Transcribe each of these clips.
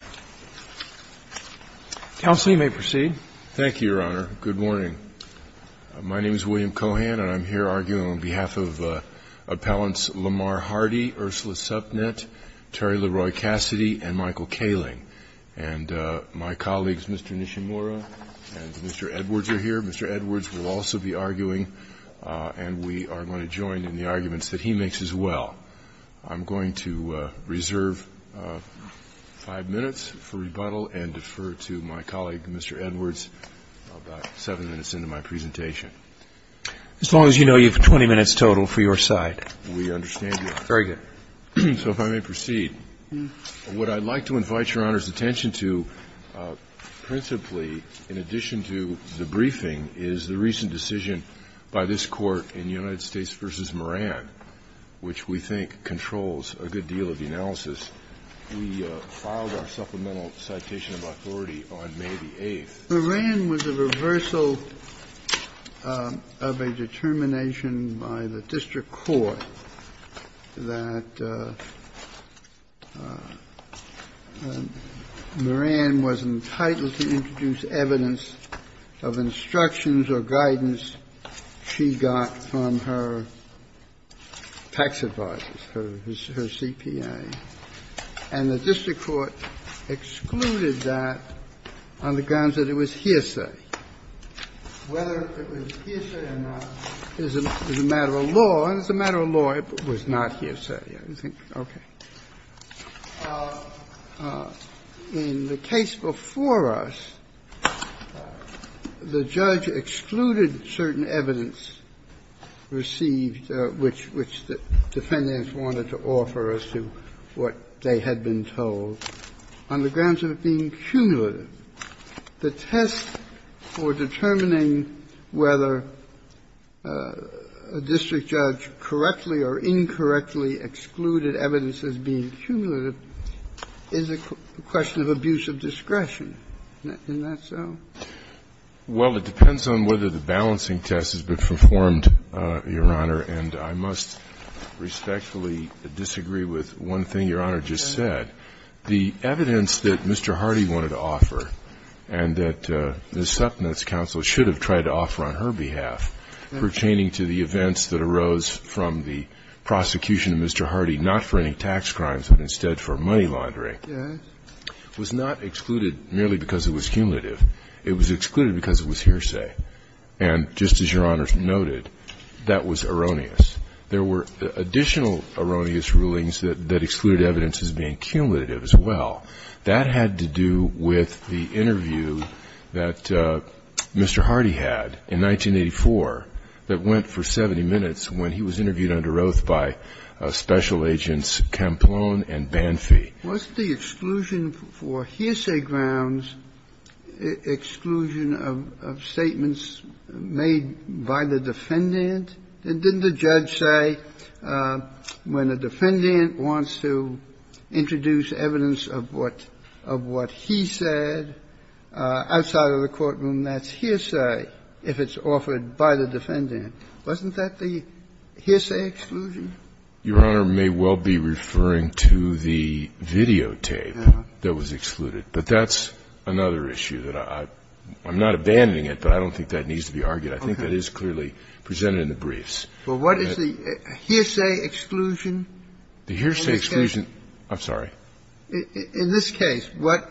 and Michael Kaling. And my colleagues, Mr. Nishimura and Mr. Edwards, are here. Mr. Edwards will also be arguing, and we are going to join in the arguments that he makes as well. I'm going to reserve five minutes. And defer to my colleague, Mr. Edwards, about seven minutes into my presentation. As long as you know you have 20 minutes total for your side. We understand that. Very good. So if I may proceed, what I'd like to invite Your Honor's attention to principally, in addition to the briefing, is the recent decision by this Court in United States v. Moran, which was a reversal of a determination by the district court that Moran was entitled to introduce evidence of instructions or guidance she got from her tax advisors, her CPA. And the district court excluded that on the grounds that it was hearsay. Whether it was hearsay or not is a matter of law, and it's a matter of law if it was not hearsay, I think. Okay. In the case before us, the judge excluded certain evidence received, which the defendants wanted to offer as to what they had been told, on the grounds of it being cumulative. The test for determining whether a district judge correctly or incorrectly excluded evidence as being cumulative is a question of abuse of discretion. Isn't that so? Well, it depends on whether the balancing test has been performed, Your Honor. And I must respectfully disagree with one thing Your Honor just said. The evidence that Mr. Hardy wanted to offer and that Ms. Supnot's counsel should have tried to offer on her behalf pertaining to the events that arose from the prosecution of Mr. Hardy, not for any tax crimes, but instead for money laundering, was not excluded merely because it was cumulative. It was excluded because it was hearsay. And just as Your Honor noted, that was erroneous. There were additional erroneous rulings that excluded evidence as being cumulative as well. That had to do with the interview that Mr. Hardy had in 1984 that went for 70 minutes when he was interviewed under oath by Special Agents Campalone and Banfi. Wasn't the exclusion for hearsay grounds exclusion of statements made by the defendant? Didn't the judge say when a defendant wants to introduce evidence of what he said outside of the courtroom, that's hearsay if it's offered by the defendant. Wasn't that the hearsay exclusion? Your Honor may well be referring to the videotape that was excluded. But that's another issue that I'm not abandoning it, but I don't think that needs to be argued. I think that is clearly presented in the briefs. Well, what is the hearsay exclusion? The hearsay exclusion, I'm sorry. In this case, what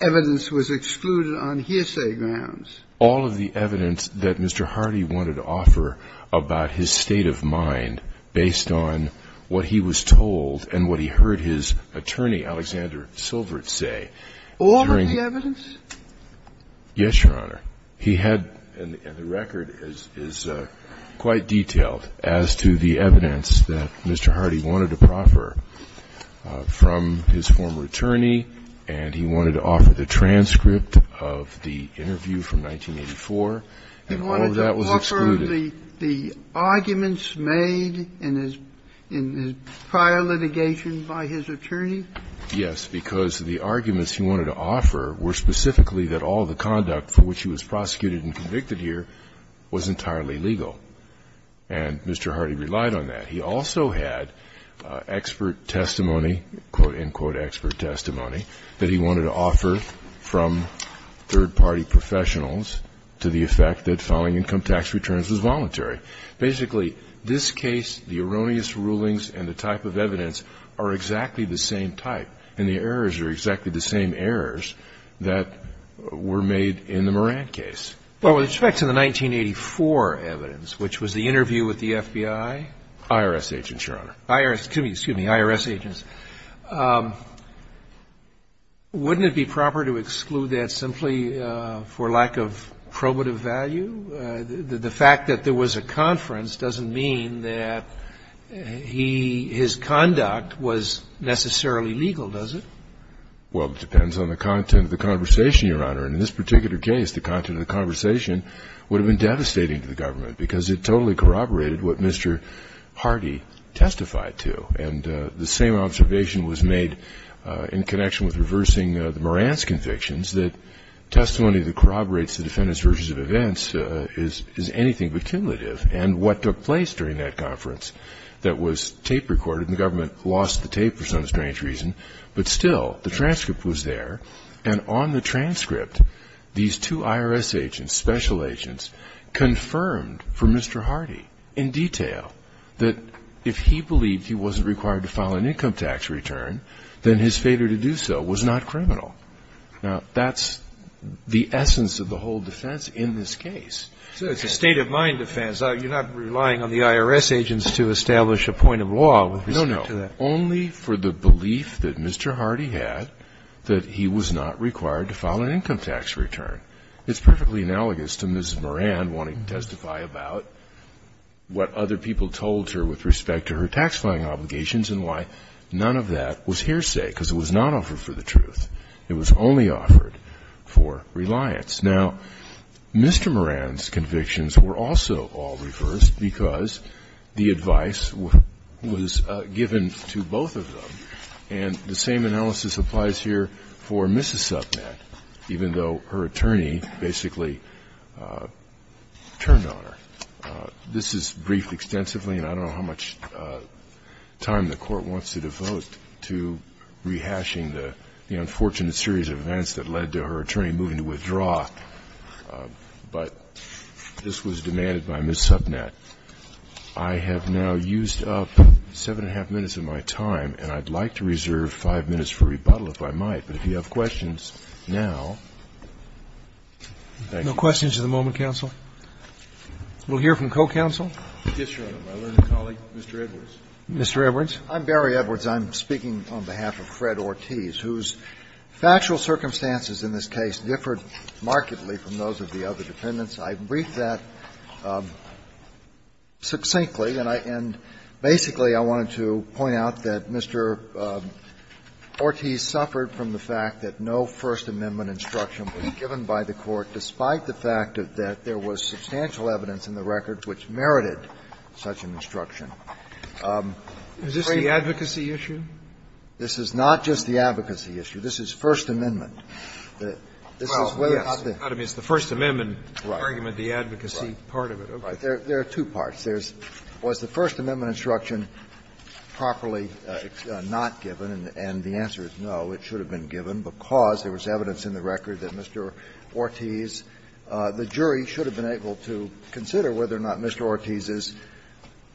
evidence was excluded on hearsay grounds? All of the evidence that Mr. Hardy wanted to offer about his state of mind based on what he was told and what he heard his attorney, Alexander Silvert, say. All of the evidence? Yes, Your Honor. He had, and the record is quite detailed, as to the evidence that Mr. Hardy wanted to proffer from his former attorney, and he wanted to offer the transcript of the interview from 1984, and all of that was excluded. He wanted to offer the arguments made in his prior litigation by his attorney? Yes, because the arguments he wanted to offer were specifically that all the conduct for which he was prosecuted and convicted here was entirely legal. And Mr. Hardy relied on that. He also had expert testimony, quote, end quote, expert testimony, that he wanted to offer from third-party professionals to the effect that filing income tax returns was voluntary. Basically, this case, the erroneous rulings, and the type of evidence are exactly the same type, and the errors are exactly the same errors that were made in the Moran case. Well, with respect to the 1984 evidence, which was the interview with the FBI? IRS agents, Your Honor. IRS, excuse me, IRS agents. Wouldn't it be proper to exclude that simply for lack of probative value? The fact that there was a conference doesn't mean that he, his conduct was necessarily legal, does it? Well, it depends on the content of the conversation, Your Honor. And in this particular case, the content of the conversation would have been devastating to the government, because it totally corroborated what Mr. Hardy testified to. And the same observation was made in connection with reversing the Moran's convictions, that testimony that corroborates the defendant's versions of events is anything but cumulative. And what took place during that conference that was tape recorded, and the government lost the tape for some strange reason, but still, the transcript was there. And on the transcript, these two IRS agents, special agents, confirmed for Mr. Hardy in detail that if he believed he wasn't required to file an income tax return, then his failure to do so was not criminal. Now, that's the essence of the whole defense in this case. So it's a state-of-mind defense. You're not relying on the IRS agents to establish a point of law with respect to that? No, no. Only for the belief that Mr. Hardy had that he was not required to file an income tax return. It's perfectly analogous to Ms. Moran wanting to testify about what other people told her with respect to her tax-filing obligations and why none of that was hearsay, because it was not offered for the truth. It was only offered for reliance. Now, Mr. Moran's convictions were also all reversed because the advice was given to both of them. And the same analysis applies here for Mrs. Subnett, even though her attorney basically turned on her. This is briefed extensively, and I don't know how much time the Court wants to devote to rehashing the unfortunate series of events that led to her attorney moving to withdraw, but this was demanded by Ms. Subnett. I have now used up seven and a half minutes of my time, and I'd like to reserve five minutes for rebuttal if I might. But if you have questions now, thank you. No questions at the moment, counsel. We'll hear from co-counsel. Yes, Your Honor. My learned colleague, Mr. Edwards. Mr. Edwards. I'm Barry Edwards. I'm speaking on behalf of Fred Ortiz, whose factual circumstances in this case differed markedly from those of the other defendants. I've briefed that succinctly, and I end. Basically, I wanted to point out that Mr. Ortiz suffered from the fact that no First Amendment instruction was given by the Court, despite the fact that there was substantial evidence in the record which merited such an instruction. Is this the advocacy issue? This is not just the advocacy issue. This is First Amendment. Well, yes. I mean, it's the First Amendment argument, the advocacy part of it. Right. Right. There are two parts. There's was the First Amendment instruction properly not given, and the answer is no, it should have been given because there was evidence in the record that Mr. Ortiz, the jury should have been able to consider whether or not Mr. Ortiz's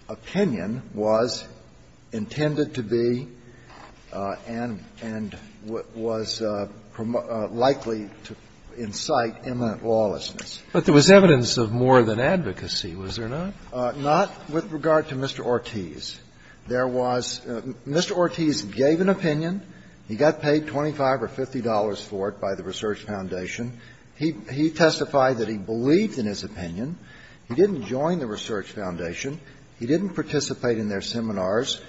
opinion was intended to be and was likely to incite imminent lawlessness. But there was evidence of more than advocacy, was there not? Not with regard to Mr. Ortiz. There was Mr. Ortiz gave an opinion. He got paid $25 or $50 for it by the Research Foundation. He testified that he believed in his opinion. He didn't join the Research Foundation. He didn't participate in their seminars.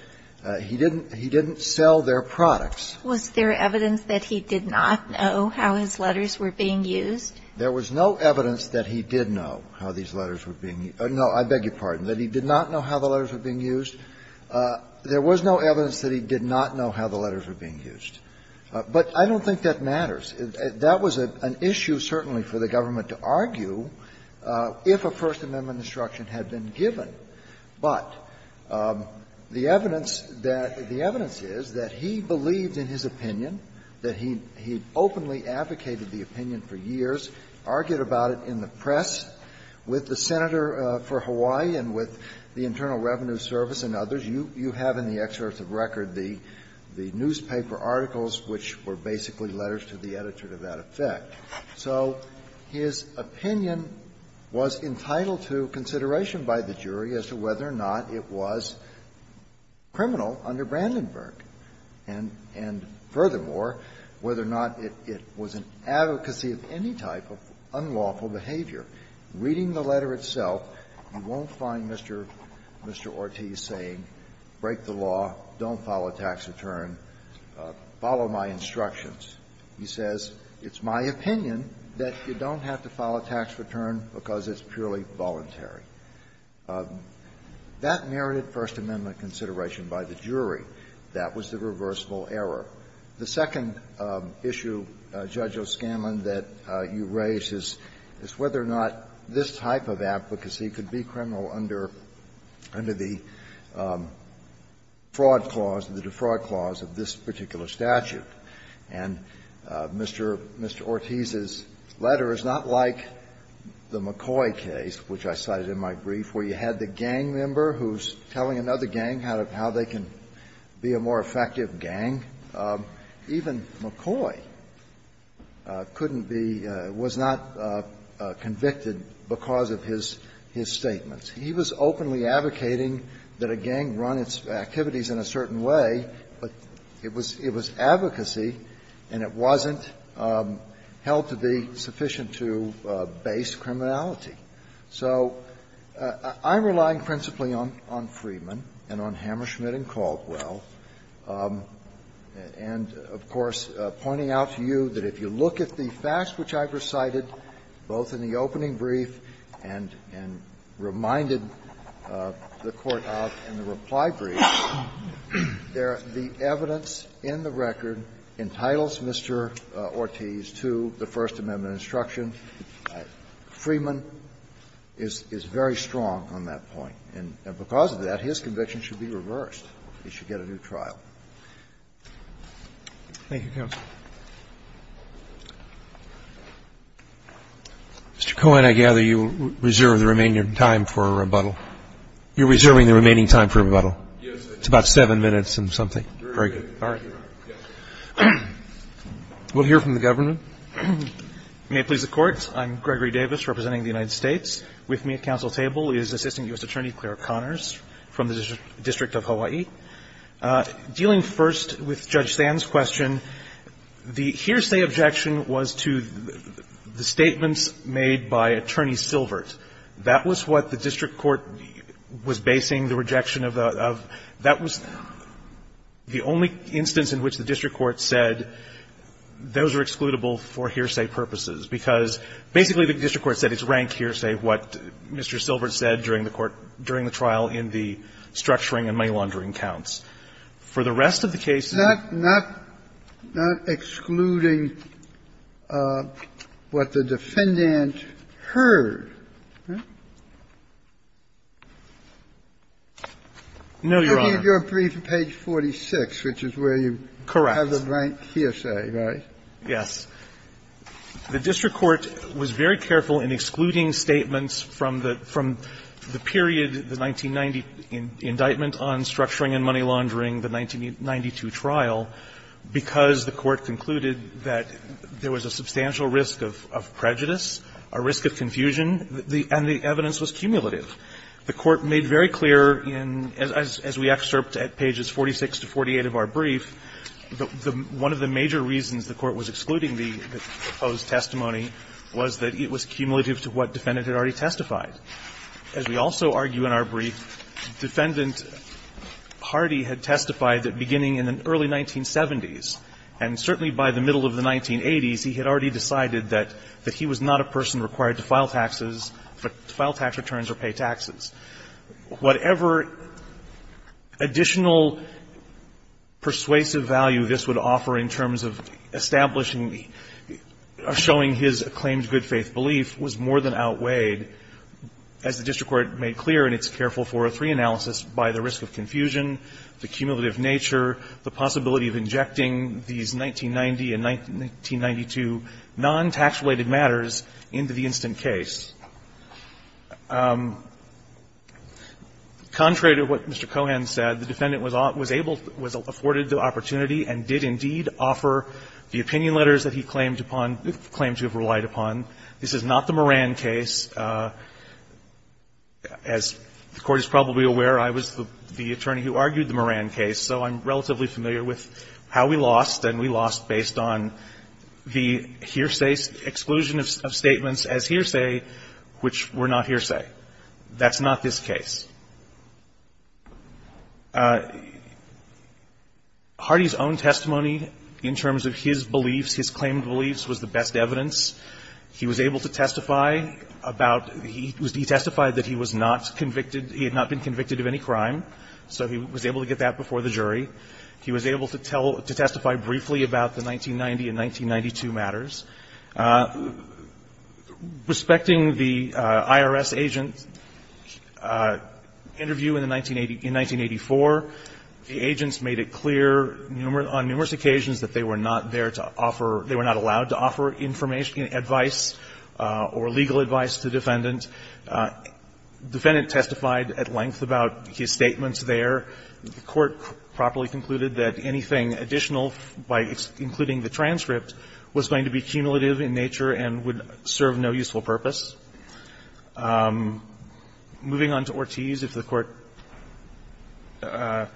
He didn't sell their products. Was there evidence that he did not know how his letters were being used? There was no evidence that he did know how these letters were being used. No, I beg your pardon, that he did not know how the letters were being used. There was no evidence that he did not know how the letters were being used. But I don't think that matters. That was an issue certainly for the government to argue if a First Amendment instruction had been given. But the evidence that the evidence is that he believed in his opinion, that he openly advocated the opinion for years, argued about it in the press with the Senator for Hawaii and with the Internal Revenue Service and others. You have in the excerpt of record the newspaper articles which were basically letters to the editor to that effect. So his opinion was entitled to consideration by the jury as to whether or not it was criminal under Brandenburg and, furthermore, whether or not it was an advocacy of any type of unlawful behavior. Reading the letter itself, you won't find Mr. Ortiz saying, break the law, don't follow tax return, follow my instructions. He says, it's my opinion that you don't have to follow tax return because it's purely voluntary. That merited First Amendment consideration by the jury. That was the reversible error. The second issue, Judge O'Scanlan, that you raised is whether or not this type of advocacy could be criminal under the fraud clause, the defraud clause of this particular statute. And Mr. Ortiz's letter is not like the McCoy case, which I cited in my brief, where you had the gang member who's telling another gang how they can be a more effective gang. Even McCoy couldn't be, was not convicted because of his statements. He was openly advocating that a gang run its activities in a certain way, but it was advocacy and it wasn't held to be sufficient to base criminality. So I'm relying principally on Freeman and on Hammerschmidt and Caldwell, and, of course, pointing out to you that if you look at the facts which I've recited, both in the opening brief and reminded the Court of in the reply brief, the evidence in the record entitles Mr. Ortiz to the First Amendment instruction. Freeman is very strong on that point. And because of that, his conviction should be reversed. He should get a new trial. Thank you, Counsel. Mr. Cohen, I gather you reserve the remaining time for a rebuttal. You're reserving the remaining time for a rebuttal. Yes. It's about 7 minutes and something. Very good. All right. We'll hear from the government. May it please the Court. I'm Gregory Davis representing the United States. With me at counsel's table is Assistant U.S. Attorney Claire Connors from the District of Hawaii. Dealing first with Judge Sand's question, the hearsay objection was to the statements made by Attorney Silvert. That was what the district court was basing the rejection of. That was the only instance in which the district court said those are excludable for hearsay purposes, because basically the district court said it's rank hearsay what Mr. Silvert said during the trial in the structuring and money laundering counts. For the rest of the case that's not, not excluding what the defendant heard. No, Your Honor. Kennedy, your brief is page 46, which is where you have the rank hearsay, right? Correct. Yes. The district court was very careful in excluding statements from the period, the 1990 indictment on structuring and money laundering, the 1992 trial, because the court the evidence was cumulative. The court made very clear in, as we excerpt at pages 46 to 48 of our brief, one of the major reasons the court was excluding the proposed testimony was that it was cumulative to what the defendant had already testified. As we also argue in our brief, defendant Hardy had testified that beginning in the early 1970s, and certainly by the middle of the 1980s, he had already decided that he was not a person required to file taxes, to file tax returns or pay taxes. Whatever additional persuasive value this would offer in terms of establishing or showing his acclaimed good-faith belief was more than outweighed, as the district court made clear, and it's careful 403 analysis, by the risk of confusion, the cumulative nature, the possibility of injecting these 1990 and 1992 non-tax-related matters into the instant case. Contrary to what Mr. Cohan said, the defendant was able to afforded the opportunity and did indeed offer the opinion letters that he claimed to have relied upon. This is not the Moran case. As the Court is probably aware, I was the attorney who argued the Moran case. So I'm relatively familiar with how we lost, and we lost based on the hearsay exclusion of statements as hearsay, which were not hearsay. That's not this case. Hardy's own testimony in terms of his beliefs, his claimed beliefs, was the best evidence. He was able to testify about the he testified that he was not convicted, he had not been convicted of any crime, so he was able to get that before the jury. He was able to tell to testify briefly about the 1990 and 1992 matters. Respecting the IRS agent interview in the 1980, in 1984, the agents made it clear numerous, on numerous occasions, that they were not there to offer, they were not allowed to offer information, advice, or legal advice to the defendant. The defendant testified at length about his statements there. The Court properly concluded that anything additional by including the transcript was going to be cumulative in nature and would serve no useful purpose. Moving on to Ortiz, if the Court ----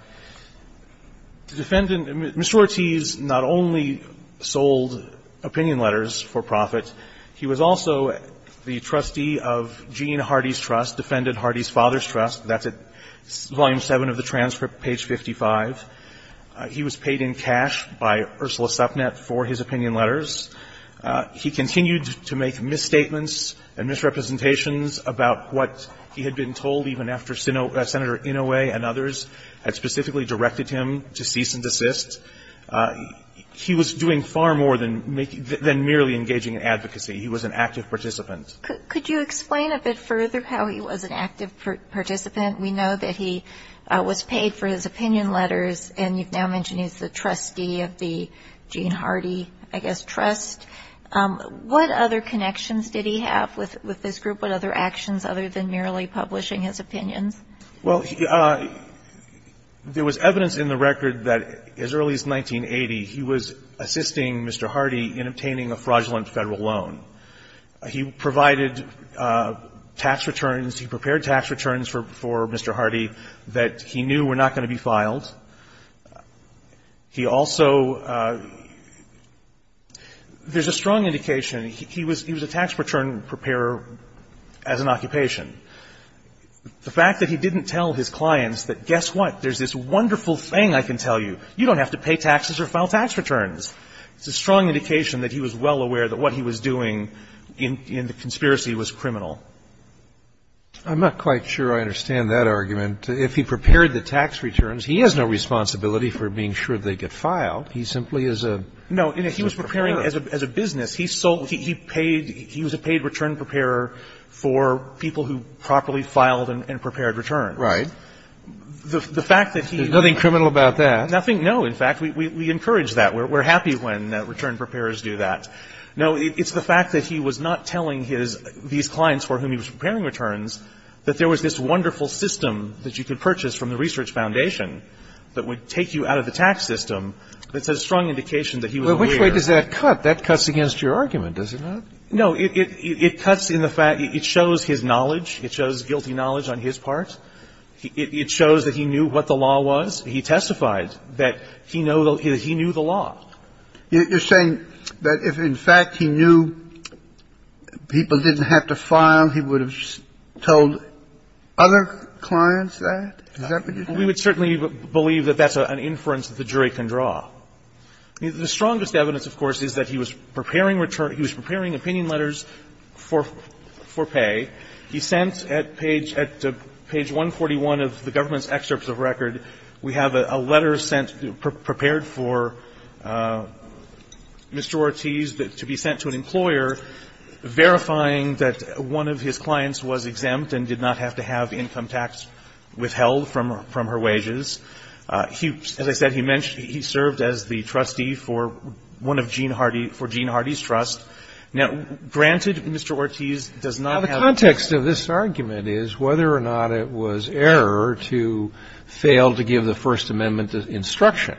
Mr. Ortiz not only sold opinion letters for profit. He was also the trustee of Gene Hardy's Trust, defendant Hardy's father's trust. That's at volume 7 of the transcript, page 55. He was paid in cash by Ursula Supnett for his opinion letters. He continued to make misstatements and misrepresentations about what he had been told even after Senator Inouye and others had specifically directed him to cease and desist. He was doing far more than merely engaging in advocacy. He was an active participant. Could you explain a bit further how he was an active participant? We know that he was paid for his opinion letters, and you've now mentioned he's the trustee of the Gene Hardy, I guess, Trust. What other connections did he have with this group? What other actions other than merely publishing his opinions? Well, there was evidence in the record that as early as 1980, he was assisting Mr. Hardy in obtaining a fraudulent Federal loan. He provided tax returns. He prepared tax returns for Mr. Hardy that he knew were not going to be filed. He also ---- there's a strong indication he was a tax return preparer as an occupation. The fact that he didn't tell his clients that, guess what, there's this wonderful thing I can tell you, you don't have to pay taxes or file tax returns, it's a strong indication that he was well aware that what he was doing in the conspiracy was criminal. I'm not quite sure I understand that argument. If he prepared the tax returns, he has no responsibility for being sure they get filed. He simply is a ---- No, he was preparing as a business. He sold ---- he paid ---- he was a paid return preparer for people who properly filed and prepared returns. Right. The fact that he ---- There's nothing criminal about that. Nothing. No, in fact, we encourage that. We're happy when return preparers do that. No, it's the fact that he was not telling his ---- these clients for whom he was preparing returns that there was this wonderful system that you could purchase from the Research Foundation that would take you out of the tax system. It's a strong indication that he was aware. Well, which way does that cut? That cuts against your argument, does it not? No, it cuts in the fact ---- it shows his knowledge. It shows guilty knowledge on his part. It shows that he knew what the law was. He testified that he knew the law. You're saying that if, in fact, he knew people didn't have to file, he would have told other clients that? Is that what you're saying? We would certainly believe that that's an inference that the jury can draw. The strongest evidence, of course, is that he was preparing return ---- he was preparing opinion letters for pay. He sent at page 141 of the government's excerpts of record, we have a letter sent prepared for Mr. Ortiz to be sent to an employer verifying that one of his clients was exempt and did not have to have income tax withheld from her wages. He, as I said, he served as the trustee for one of Gene Hardy, for Gene Hardy's trust. Now, granted, Mr. Ortiz does not have ---- Now, the context of this argument is whether or not it was error to fail to give the First Amendment instruction.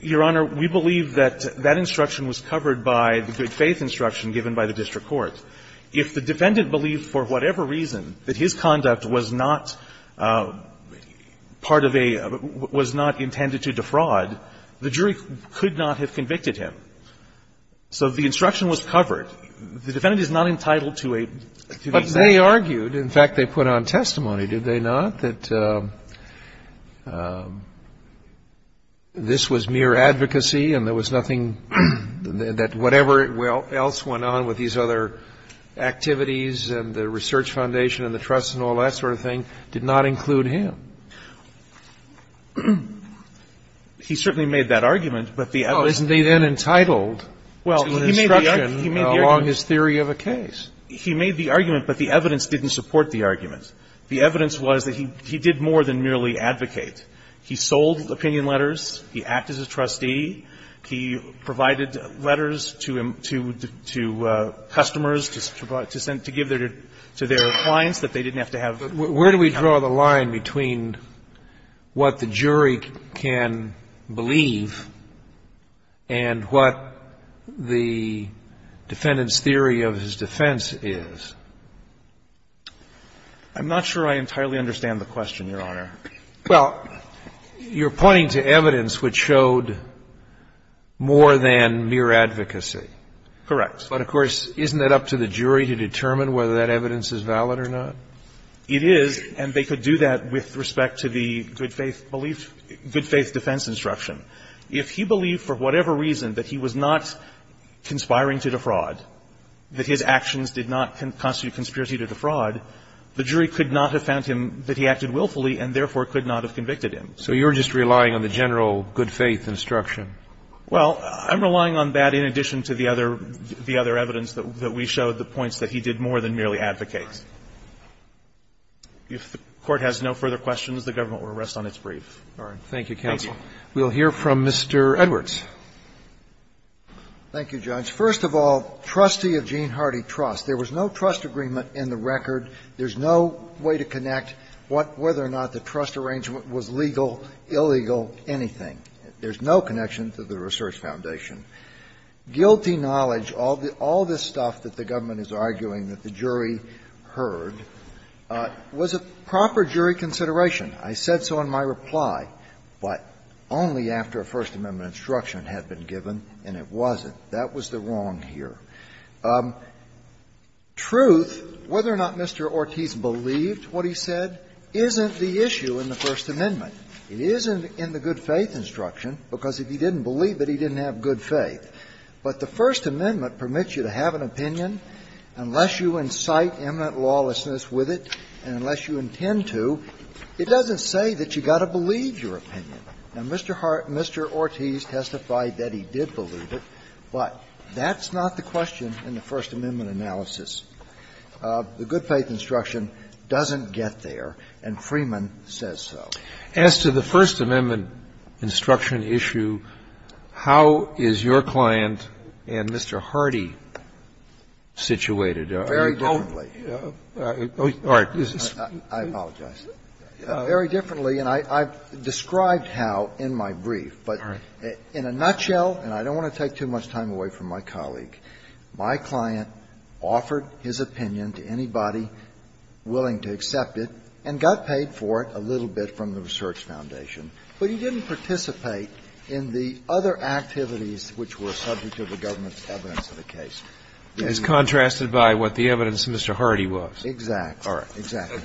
Your Honor, we believe that that instruction was covered by the good faith instruction given by the district court. If the defendant believed for whatever reason that his conduct was not part of a ---- was not intended to defraud, the jury could not have convicted him. So the instruction was covered. The defendant is not entitled to a ---- But they argued, in fact, they put on testimony, did they not, that this was mere advocacy and there was nothing ---- that whatever else went on with these other activities and the research foundation and the trust and all that sort of thing did not include him. He certainly made that argument, but the evidence ---- Well, isn't he then entitled to an instruction along his theory of a case? He made the argument, but the evidence didn't support the argument. The evidence was that he did more than merely advocate. He sold opinion letters. He acted as a trustee. He provided letters to customers to give to their clients that they didn't have to have ---- But where do we draw the line between what the jury can believe and what the defendant's theory of his defense is? I'm not sure I entirely understand the question, Your Honor. Well, you're pointing to evidence which showed more than mere advocacy. Correct. But, of course, isn't it up to the jury to determine whether that evidence is valid or not? It is, and they could do that with respect to the good faith belief ---- good faith defense instruction. If he believed for whatever reason that he was not conspiring to defraud, that his actions did not constitute conspiracy to defraud, the jury could not have found that he acted willfully and therefore could not have convicted him. So you're just relying on the general good faith instruction? Well, I'm relying on that in addition to the other evidence that we showed, the points that he did more than merely advocate. If the Court has no further questions, the Government will rest on its brief. Thank you, counsel. Thank you. We'll hear from Mr. Edwards. Thank you, Judge. First of all, trustee of Gene Hardy Trust. There was no trust agreement in the record. There's no way to connect what ---- whether or not the trust arrangement was legal, illegal, anything. There's no connection to the Research Foundation. Guilty knowledge, all the ---- all this stuff that the Government is arguing that the jury heard was a proper jury consideration. I said so in my reply, but only after a First Amendment instruction had been given, and it wasn't. That was the wrong here. Truth, whether or not Mr. Ortiz believed what he said, isn't the issue in the First Amendment. It isn't in the good faith instruction, because if he didn't believe it, he didn't have good faith. But the First Amendment permits you to have an opinion unless you incite imminent lawlessness with it and unless you intend to. It doesn't say that you've got to believe your opinion. Now, Mr. Ortiz testified that he did believe it, but that's not the question in the First Amendment analysis. The good faith instruction doesn't get there, and Freeman says so. As to the First Amendment instruction issue, how is your client and Mr. Hardy situated? Very differently. I apologize. Very differently, and I've described how in my brief. But in a nutshell, and I don't want to take too much time away from my colleague, my client offered his opinion to anybody willing to accept it and got paid for it a little bit from the Research Foundation. But he didn't participate in the other activities which were subject to the government's evidence of the case. It's contrasted by what the evidence of Mr. Hardy was. Exactly. All right. Exactly.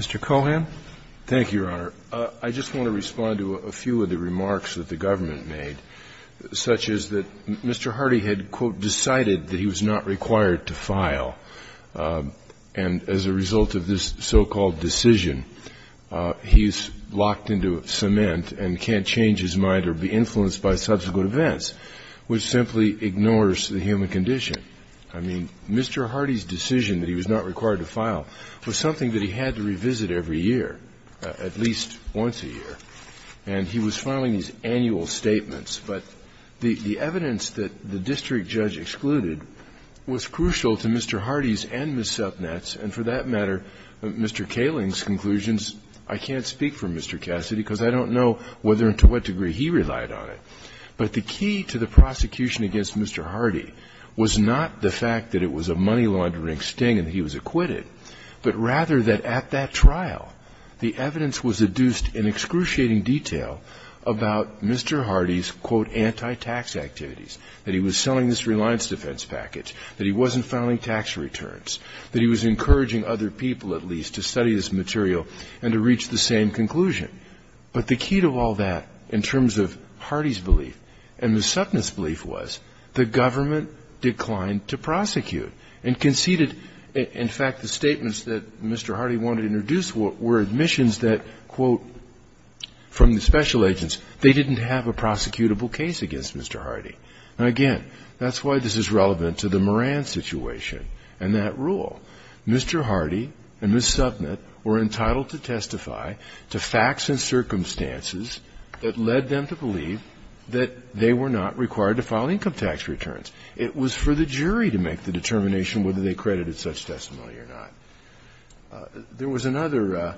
Mr. Cohan. Thank you, Your Honor. I just want to respond to a few of the remarks that the government made, such as that Mr. Hardy had, quote, decided that he was not required to file, and as a result of this so-called decision, he's locked into cement and can't change his mind or be influenced by subsequent events, which simply ignores the human condition. I mean, Mr. Hardy's decision that he was not required to file was something that he had to revisit every year, at least once a year, and he was filing these annual statements. But the evidence that the district judge excluded was crucial to Mr. Hardy's and Ms. Supnett's, and for that matter, Mr. Kaling's conclusions, I can't speak for Mr. Cassidy because I don't know whether and to what degree he relied on it. But the key to the prosecution against Mr. Hardy was not the fact that it was a money laundering sting and he was acquitted, but rather that at that trial, the evidence was adduced in excruciating detail about Mr. Hardy's, quote, anti-tax activities, that he was selling this reliance defense package, that he wasn't filing tax returns, that he was encouraging other people, at least, to study this material and to reach the same conclusion. But the key to all that in terms of Hardy's belief and Ms. Supnett's belief was the government declined to prosecute and conceded. In fact, the statements that Mr. Hardy wanted to introduce were admissions that, quote, from the special agents, they didn't have a prosecutable case against Mr. Hardy. Now, again, that's why this is relevant to the Moran situation and that rule. Mr. Hardy and Ms. Supnett were entitled to testify to facts and circumstances that led them to believe that they were not required to file income tax returns. It was for the jury to make the determination whether they credited such testimony or not. There was another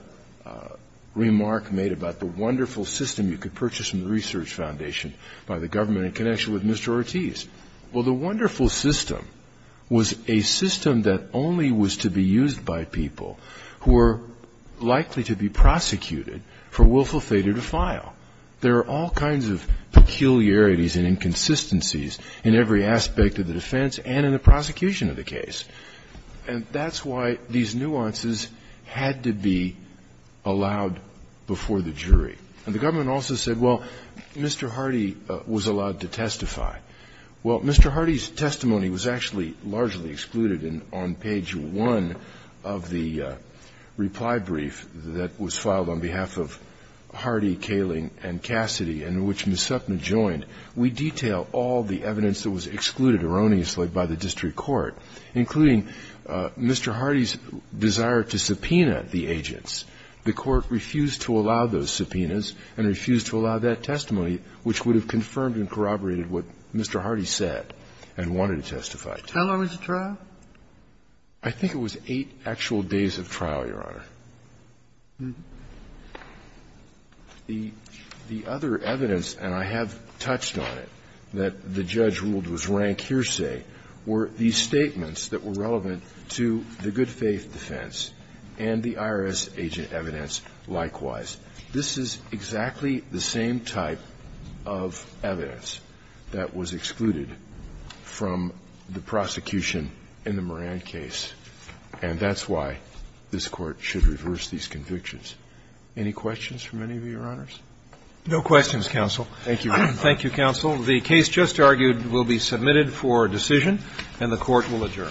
remark made about the wonderful system you could purchase from the Research Foundation by the government in connection with Mr. Ortiz. Well, the wonderful system was a system that only was to be used by people who were likely to be prosecuted for willful failure to file. There are all kinds of peculiarities and inconsistencies in every aspect of the defense and in the prosecution of the case. And that's why these nuances had to be allowed before the jury. And the government also said, well, Mr. Hardy was allowed to testify. Well, Mr. Hardy's testimony was actually largely excluded on page 1 of the reply brief that was filed on behalf of Hardy, Kaling, and Cassidy, and which Ms. Supnett joined. We detail all the evidence that was excluded erroneously by the district court, including Mr. Hardy's desire to subpoena the agents. The court refused to allow those subpoenas and refused to allow that testimony, which would have confirmed and corroborated what Mr. Hardy said and wanted to testify to. How long was the trial? I think it was eight actual days of trial, Your Honor. The other evidence, and I have touched on it, that the judge ruled was rank hearsay were these statements that were relevant to the good faith defense and the IRS agent evidence likewise. This is exactly the same type of evidence that was excluded from the prosecution in the Moran case. And that's why this Court should reverse these convictions. Any questions from any of you, Your Honors? No questions, counsel. Thank you. Thank you, counsel. The case just argued will be submitted for decision, and the Court will adjourn. Thank you.